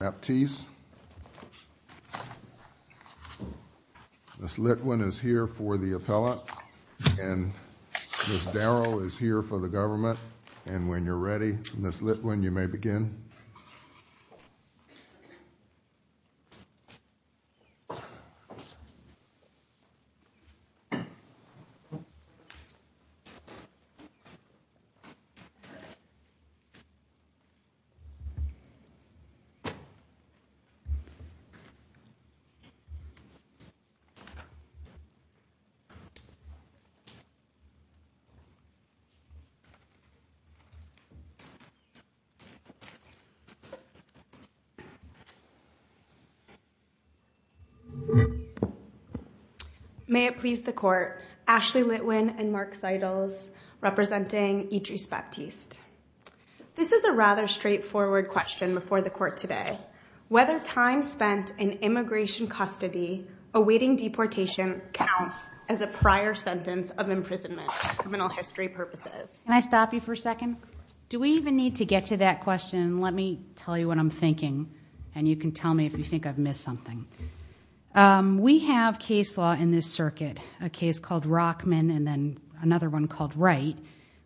Ms. Litwin is here for the appellate and Ms. Darrow is here for the government and when you're ready Ms. Litwin you may begin. May it please the court, Ashley Litwin and Mark Seidels representing Edriss Baptiste. This is a rather straightforward question before the court today. Whether time spent in immigration custody awaiting deportation counts as a prior sentence of imprisonment for criminal history purposes. Can I stop you for a second? Do we even need to get to that question? Let me tell you what I'm thinking and you can tell me if you think I've missed something. We have case law in this circuit, a case called Rockman and then another one called Wright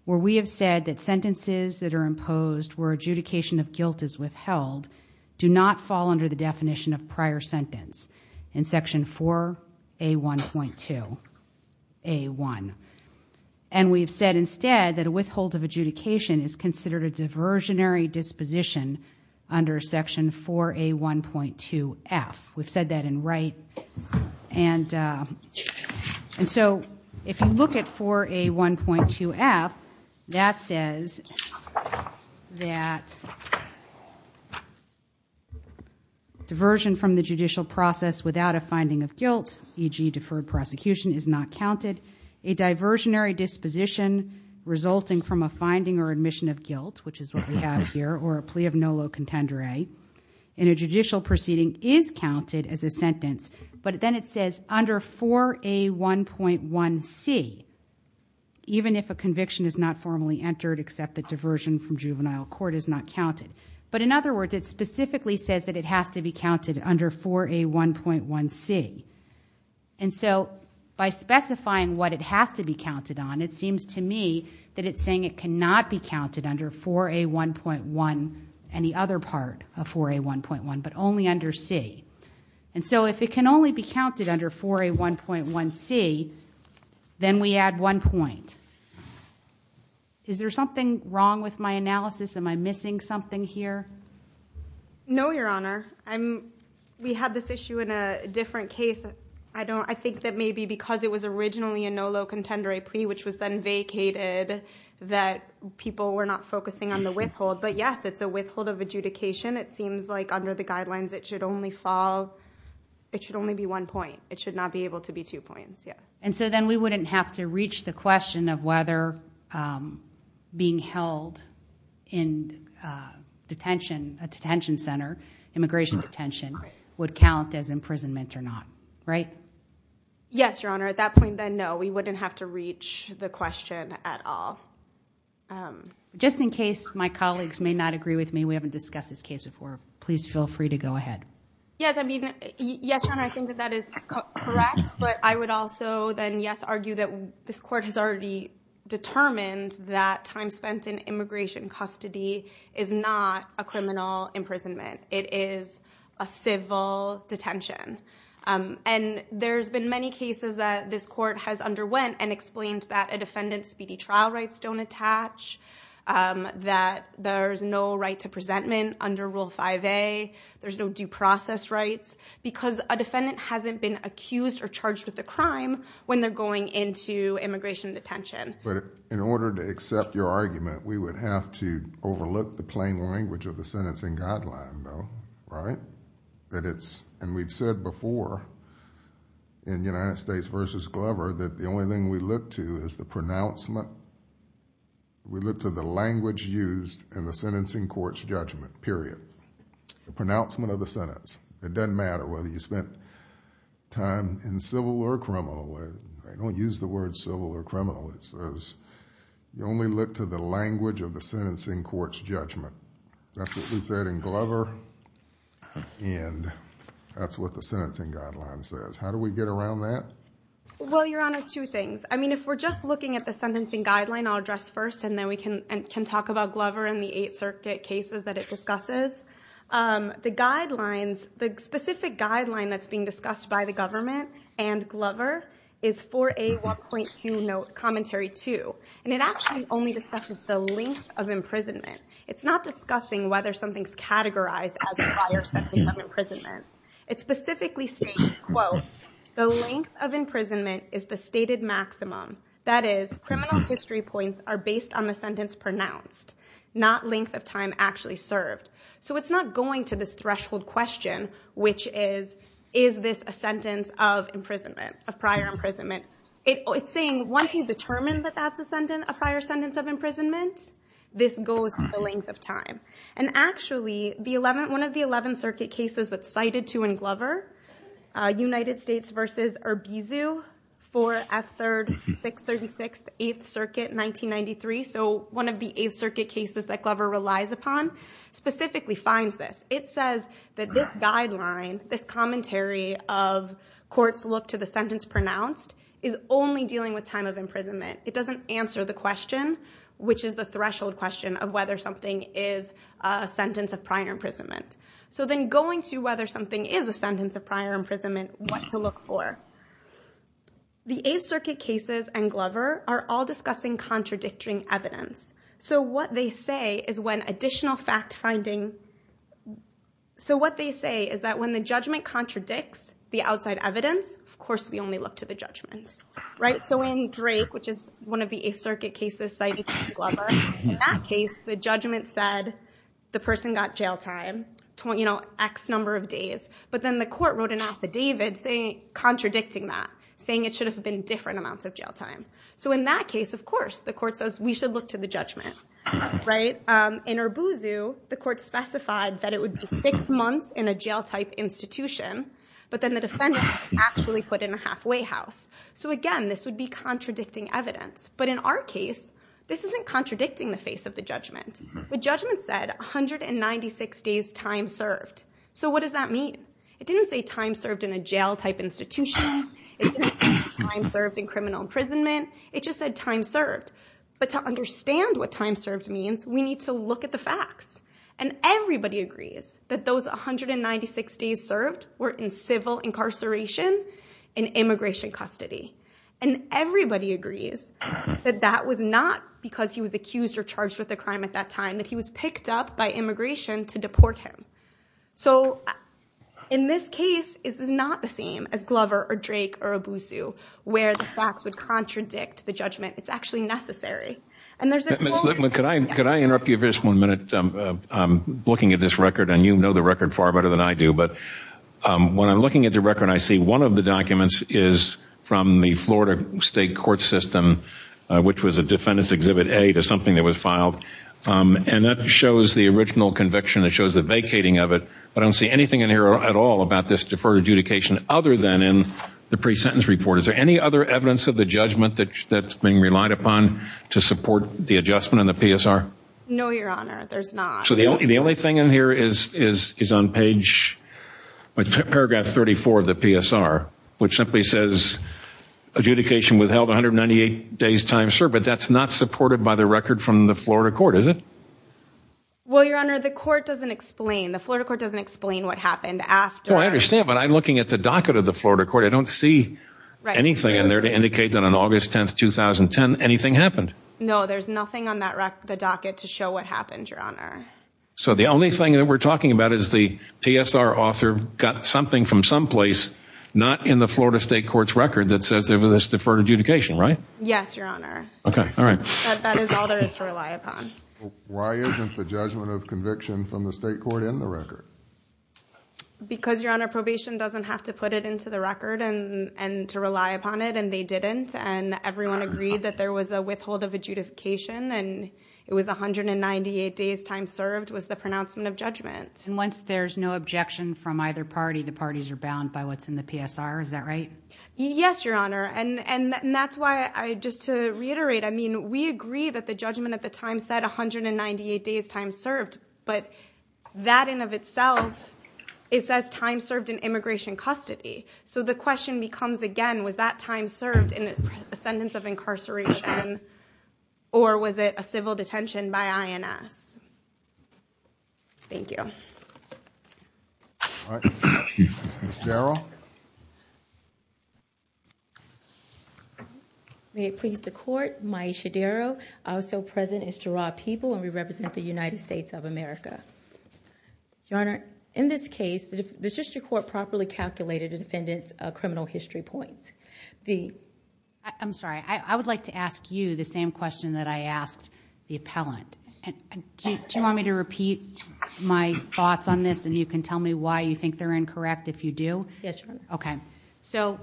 where we have said that sentences that are imposed where adjudication of guilt is withheld do not fall under the definition of prior sentence in section 4A1.2A1 and we've said instead that a withhold of adjudication is considered a diversionary disposition under section 4A1.2F. We've said that in Wright and so if you look at 4A1.2F that says that diversion from the judicial process without a finding of guilt, e.g. deferred prosecution is not counted. A diversionary disposition resulting from a finding or admission of guilt, which is what we have here, or a plea of no low contendere in a judicial proceeding is counted as a sentence but then it says under 4A1.1C even if a conviction is not formally entered except the diversion from juvenile court is not counted. But in other words, it specifically says that it has to be counted under 4A1.1C and so by specifying what it has to be counted on, it seems to me that it's saying it cannot be counted under 4A1.1 and the other part of 4A1.1 but only under C. And so if it can only be counted under 4A1.1C then we add one point. Is there something wrong with my analysis? Am I missing something here? No Your Honor. We had this issue in a different case. I think that maybe because it was originally a no low contendere plea which was then vacated that people were not focusing on the withhold but yes, it's a withhold of adjudication. It seems like under the guidelines it should only fall, it should only be one point. It should not be able to be two points, yes. And so then we wouldn't have to reach the question of whether being held in a detention center, immigration detention, would count as imprisonment or not, right? Yes, Your Honor. At that point then, no. We wouldn't have to reach the question at all. Just in case my colleagues may not agree with me, we haven't discussed this case before, please feel free to go ahead. Yes, I mean, yes, Your Honor, I think that that is correct but I would also then yes, argue that this court has already determined that time spent in immigration custody is not a criminal imprisonment. It is a civil detention. And there's been many cases that this court has underwent and explained that a defendant's speedy trial rights don't attach, that there's no right to presentment under Rule 5A, there's no due process rights because a defendant hasn't been accused or charged with a crime when they're going into immigration detention. In order to accept your argument, we would have to overlook the plain language of the sentencing guideline though, right? And we've said before in United States v. Glover that the only thing we look to is the pronouncement. We look to the language used in the sentencing court's judgment, period, the pronouncement of the sentence. It doesn't matter whether you spent time in civil or criminal... I don't use the word civil or criminal. It says you only look to the language of the sentencing court's judgment. That's what we said in Glover and that's what the sentencing guideline says. How do we get around that? Well, Your Honor, two things. I mean, if we're just looking at the sentencing guideline, I'll address first and then we can talk about Glover and the Eighth Circuit cases that it discusses. The guidelines, the specific guideline that's being discussed by the government and Glover is 4A1.2 Commentary 2 and it actually only discusses the length of imprisonment. It's not discussing whether something's categorized as a prior sentence of imprisonment. It specifically states, quote, the length of imprisonment is the stated maximum. That is, criminal history points are based on the sentence pronounced, not length of time actually served. So it's not going to this threshold question, which is, is this a sentence of imprisonment of prior imprisonment? It's saying once you've determined that that's a prior sentence of imprisonment, this goes to the length of time. And actually, one of the Eleventh Circuit cases that's cited to in Glover, United States versus Urbizu, 4F3, 636th, Eighth Circuit, 1993. So one of the Eighth Circuit cases that Glover relies upon specifically finds this. It says that this guideline, this commentary of courts look to the sentence pronounced is only dealing with time of imprisonment. It doesn't answer the question, which is the threshold question of whether something is a sentence of prior imprisonment. So then going to whether something is a sentence of prior imprisonment, what to look for. The Eighth Circuit cases and Glover are all discussing contradicting evidence. So what they say is that when the judgment contradicts the outside evidence, of course we only look to the judgment. So in Drake, which is one of the Eighth Circuit cases cited to Glover, in that case the judgment said the person got jail time, X number of days. But then the court wrote an affidavit contradicting that, saying it should have been different amounts of jail time. So in that case, of course, the court says we should look to the judgment. In Urbuzu, the court specified that it would be six months in a jail-type institution. But then the defendant actually put in a halfway house. So again, this would be contradicting evidence. But in our case, this isn't contradicting the face of the judgment. The judgment said 196 days time served. So what does that mean? It didn't say time served in a jail-type institution. It didn't say time served in criminal imprisonment. It just said time served. But to understand what time served means, we need to look at the facts. And everybody agrees that those 196 days served were in civil incarceration and immigration custody. And everybody agrees that that was not because he was accused or charged with a crime at that time. That he was picked up by immigration to deport him. So in this case, this is not the same as Glover or Drake or Urbuzu, where the facts would contradict the judgment. It's actually necessary. And there's a- Ms. Lipman, could I interrupt you for just one minute? I'm looking at this record, and you know the record far better than I do. But when I'm looking at the record, I see one of the documents is from the Florida State Court System, which was a Defendant's Exhibit A to something that was filed. And that shows the original conviction. It shows the vacating of it. I don't see anything in here at all about this deferred adjudication, other than in the pre-sentence report. Is there any other evidence of the judgment that's being relied upon to support the adjustment in the PSR? No, Your Honor. There's not. So the only thing in here is on page- paragraph 34 of the PSR, which simply says adjudication withheld 198 days time served. But that's not supported by the record from the Florida court, is it? Well, Your Honor, the court doesn't explain. The Florida court doesn't explain what happened after. No, I understand. But I'm looking at the docket of the Florida court. I don't see anything in there to indicate that on August 10, 2010, anything happened. No, there's nothing on that record, the docket, to show what happened, Your Honor. So the only thing that we're talking about is the PSR author got something from someplace not in the Florida State Court's record that says there was this deferred adjudication, right? Yes, Your Honor. Okay. All right. That is all there is to rely upon. Why isn't the judgment of conviction from the state court in the record? Because Your Honor, probation doesn't have to put it into the record and to rely upon it and they didn't. And everyone agreed that there was a withhold of adjudication and it was 198 days time served was the pronouncement of judgment. And once there's no objection from either party, the parties are bound by what's in the PSR. Is that right? Yes, Your Honor. And that's why I, just to reiterate, I mean, we agree that the judgment at the time said 198 days time served, but that in of itself, it says time served in immigration custody. So the question becomes again, was that time served in a sentence of incarceration or was it a civil detention by INS? Thank you. All right. Ms. Darrell? May it please the court, Maisha Darrell, also present is Gerard Peeble and we represent the United States of America. Your Honor, in this case, the district court properly calculated the defendant's criminal history points. The... I'm sorry. I would like to ask you the same question that I asked the appellant. Do you want me to repeat my thoughts on this and you can tell me why you think they're incorrect if you do? Yes, Your Honor. Okay. So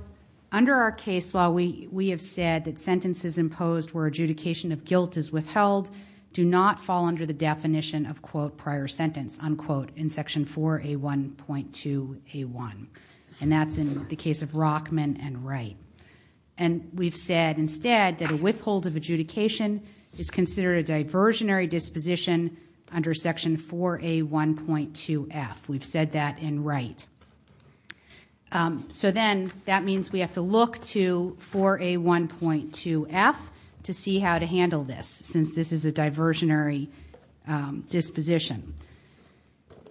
under our case law, we have said that sentences imposed where adjudication of guilt is withheld do not fall under the definition of, quote, prior sentence, unquote, in section 4A1.2A1. And that's in the case of Rockman and Wright. And we've said instead that a withhold of adjudication is considered a diversionary disposition under section 4A1.2F. We've said that in Wright. So then that means we have to look to 4A1.2F to see how to handle this since this is a diversionary disposition.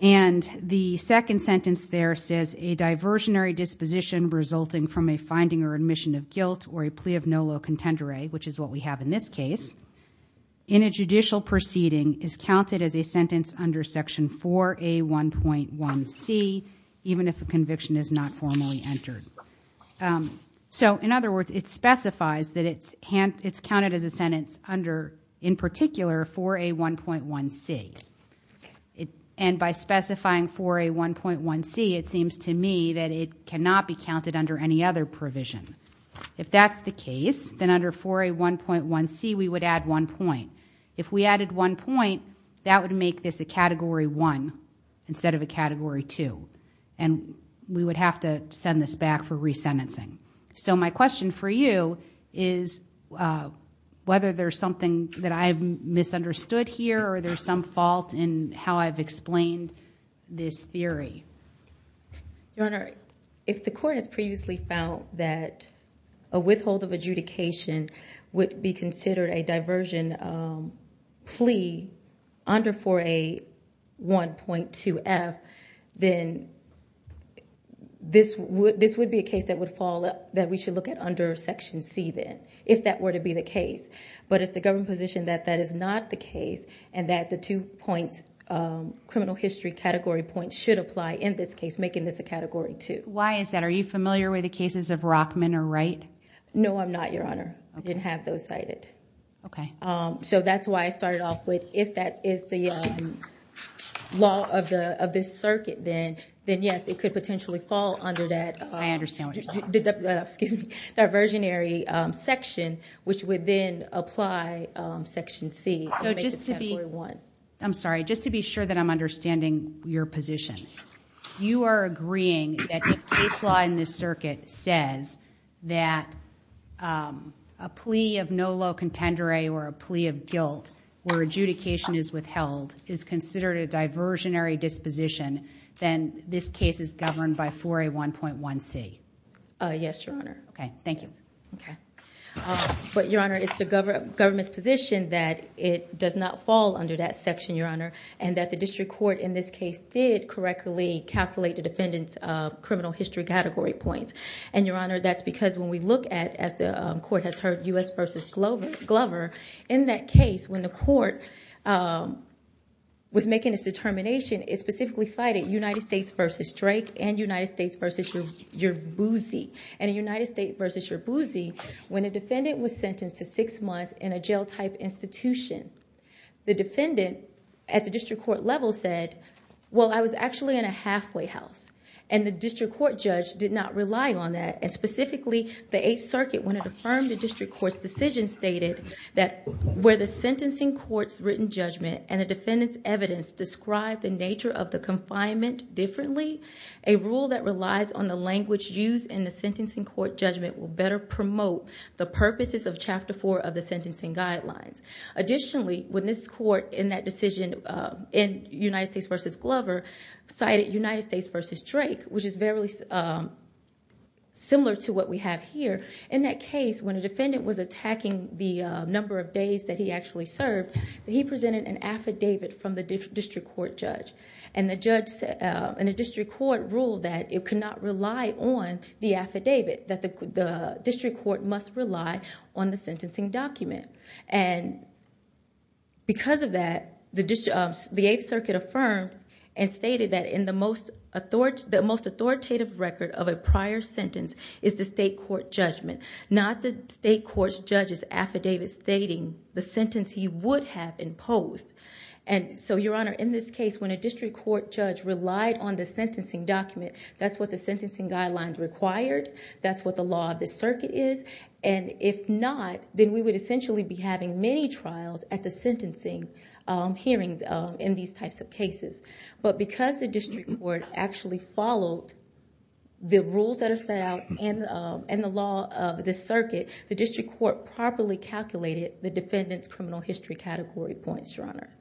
And the second sentence there says, a diversionary disposition resulting from a finding or admission of guilt or a plea of nolo contendere, which is what we have in this case, in a judicial proceeding is counted as a sentence under section 4A1.1C, even if a conviction is not formally entered. So in other words, it specifies that it's counted as a sentence under, in particular, 4A1.1C. And by specifying 4A1.1C, it seems to me that it cannot be counted under any other provision. If that's the case, then under 4A1.1C, we would add one point. If we added one point, that would make this a Category 1 instead of a Category 2. And we would have to send this back for re-sentencing. So my question for you is whether there's something that I've misunderstood here or there's some fault in how I've explained this theory. Your Honor, if the court has previously found that a withhold of adjudication would be considered a diversion plea under 4A1.2F, then this would be a case that would fall, that we should look at under Section C then, if that were to be the case. But it's the government position that that is not the case and that the two points, criminal history category points, should apply in this case, making this a Category 2. Why is that? Are you familiar with the cases of Rockman or Wright? No, I'm not, Your Honor. I didn't have those cited. So that's why I started off with, if that is the law of this circuit, then yes, it could potentially fall under that diversionary section, which would then apply Section C to make it Category 1. I'm sorry. Just to be sure that I'm understanding your position. You are agreeing that if case law in this circuit says that a plea of nolo contendere or a plea of guilt, where adjudication is withheld, is considered a diversionary disposition, then this case is governed by 4A1.1C. Yes, Your Honor. Okay. Thank you. Okay. But, Your Honor, it's the government's position that it does not fall under that section, Your Honor, and that the district court in this case did correctly calculate the defendant's criminal history category points. And Your Honor, that's because when we look at, as the court has heard, U.S. v. Glover, in that case, when the court was making its determination, it specifically cited United States v. Drake and United States v. Yerbuzi. And in United States v. Yerbuzi, when a defendant was sentenced to six months in a jail-type institution, the defendant at the district court level said, well, I was actually in a halfway house. And the district court judge did not rely on that. And specifically, the Eighth Circuit, when it affirmed the district court's decision, stated that where the sentencing court's written judgment and the defendant's evidence describe the nature of the confinement differently, a rule that relies on the language used in the sentencing court judgment will better promote the purposes of Chapter 4 of the sentencing guidelines. Additionally, when this court, in that decision, in United States v. Glover, cited United States v. Drake, which is very similar to what we have here, in that case, when a defendant was attacking the number of days that he actually served, he presented an affidavit from the district court judge. And the district court ruled that it could not rely on the affidavit, that the district court must rely on the sentencing document. And because of that, the Eighth Circuit affirmed and stated that the most authoritative record of a prior sentence is the state court judgment, not the state court judge's affidavit stating the sentence he would have imposed. And so, Your Honor, in this case, when a district court judge relied on the sentencing document, that's what the sentencing guidelines required. That's what the law of the circuit is. And if not, then we would essentially be having many trials at the sentencing hearings in these types of cases. But because the district court actually followed the rules that are set out in the law of the circuit, the district court properly calculated the defendant's criminal history category points, Your Honor.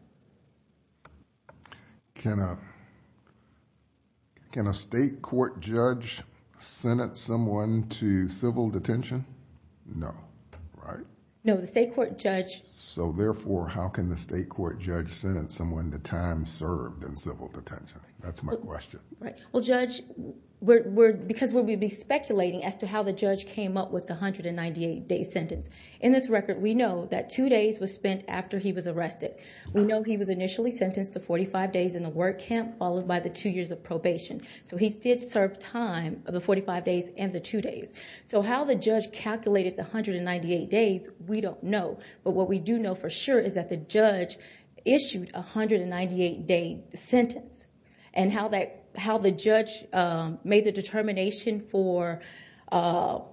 Can a state court judge sentence someone to civil detention? No. Right? No. The state court judge... So therefore, how can the state court judge sentence someone to time served in civil detention? That's my question. Right. Well, Judge, because we would be speculating as to how the judge came up with the 198-day sentence. In this record, we know that two days was spent after he was arrested. We know he was initially sentenced to 45 days in the work camp, followed by the two years of probation. So he did serve time of the 45 days and the two days. So how the judge calculated the 198 days, we don't know. But what we do know for sure is that the judge issued a 198-day sentence. And how the judge made the determination for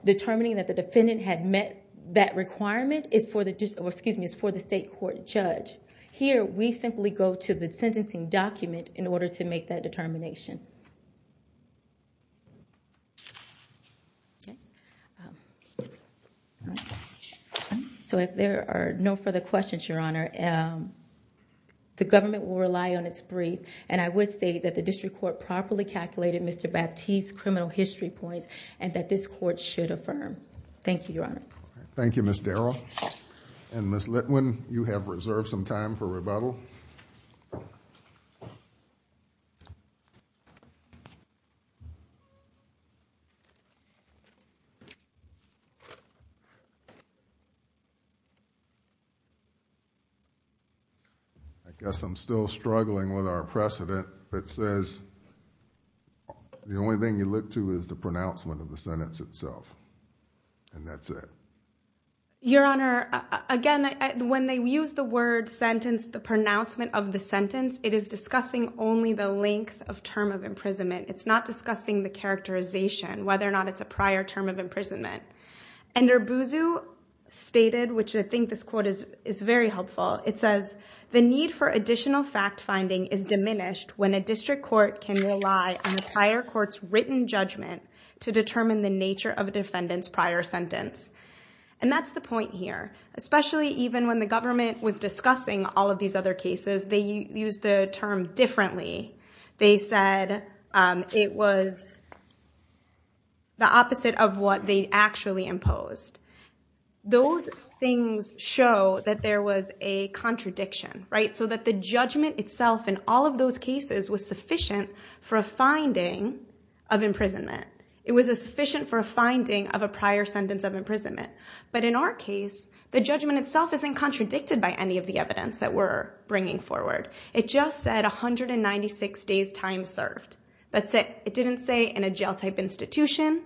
determining that the defendant had met that requirement is for the state court judge. Here, we simply go to the sentencing document in order to make that determination. So if there are no further questions, Your Honor, the government will rely on its brief. And I would say that the district court properly calculated Mr. Baptiste's criminal history points and that this court should affirm. Thank you, Your Honor. Thank you, Ms. Darrell. And Ms. Litwin, you have reserved some time for rebuttal. I guess I'm still struggling with our precedent that says the only thing you look to is the pronouncement of the sentence itself. And that's it. Your Honor, again, when they use the word sentence, the pronouncement of the sentence, it is discussing only the length of term of imprisonment. It's not discussing the characterization, whether or not it's a prior term of imprisonment. And Urbuzu stated, which I think this quote is very helpful. It says, the need for additional fact finding is diminished when a district court can rely on the prior court's written judgment to determine the nature of a defendant's prior sentence. And that's the point here. Especially even when the government was discussing all of these other cases, they used the term differently. They said it was the opposite of what they actually imposed. Those things show that there was a contradiction, right? The judgment itself in all of those cases was sufficient for a finding of imprisonment. It was sufficient for a finding of a prior sentence of imprisonment. But in our case, the judgment itself isn't contradicted by any of the evidence that we're bringing forward. It just said 196 days time served. That's it. It didn't say in a jail-type institution.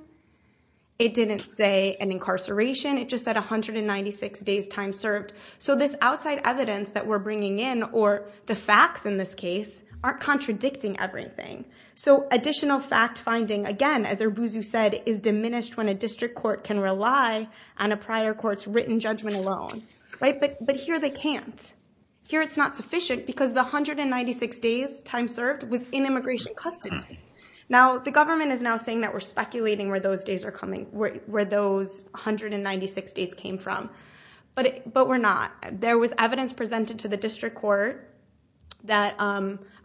It didn't say an incarceration. It just said 196 days time served. So this outside evidence that we're bringing in, or the facts in this case, aren't contradicting everything. So additional fact finding, again, as Urbuzu said, is diminished when a district court can rely on a prior court's written judgment alone. But here they can't. Here it's not sufficient because the 196 days time served was in immigration custody. Now, the government is now saying that we're speculating where those 196 days came from. But we're not. There was evidence presented to the district court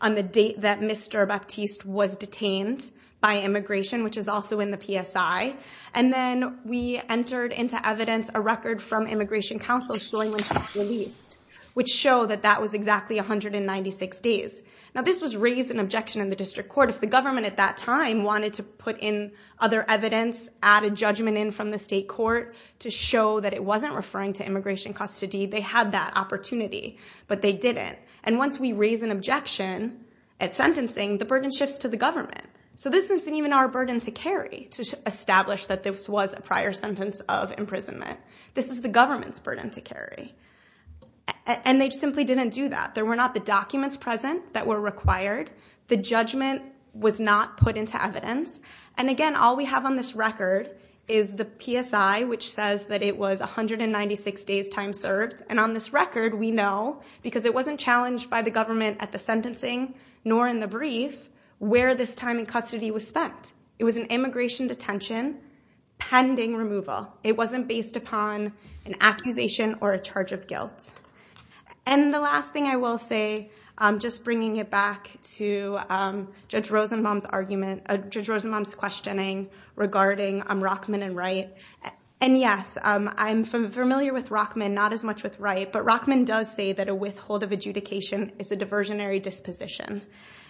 on the date that Mr. Baptiste was detained by immigration, which is also in the PSI. And then we entered into evidence a record from Immigration Counsel showing when he was released, which showed that that was exactly 196 days. Now, this was raised in objection in the district court. If the government at that time wanted to put in other evidence, add a judgment in from the state court to show that it wasn't referring to immigration custody, they had that opportunity. But they didn't. And once we raise an objection at sentencing, the burden shifts to the government. So this isn't even our burden to carry, to establish that this was a prior sentence of imprisonment. This is the government's burden to carry. And they simply didn't do that. There were not the documents present that were required. The judgment was not put into evidence. And again, all we have on this record is the PSI, which says that it was 196 days' time served. And on this record, we know, because it wasn't challenged by the government at the sentencing nor in the brief, where this time in custody was spent. It was an immigration detention pending removal. It wasn't based upon an accusation or a charge of guilt. And the last thing I will say, just bringing it back to Judge Rosenbaum's argument, Judge Rosenbaum's questioning regarding Rockman and Wright. And yes, I'm familiar with Rockman, not as much with Wright. But Rockman does say that a withhold of adjudication is a diversionary disposition.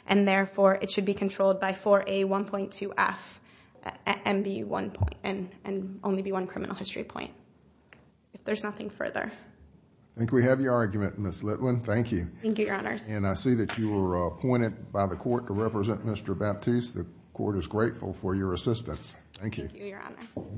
And therefore, it should be controlled by 4A1.2F and only be one criminal history point. If there's nothing further. I think we have your argument, Ms. Litwin. Thank you. Thank you, Your Honors. And I see that you were appointed by the court to represent Mr. Baptiste. The court is grateful for your assistance. Thank you. Thank you, Your Honor.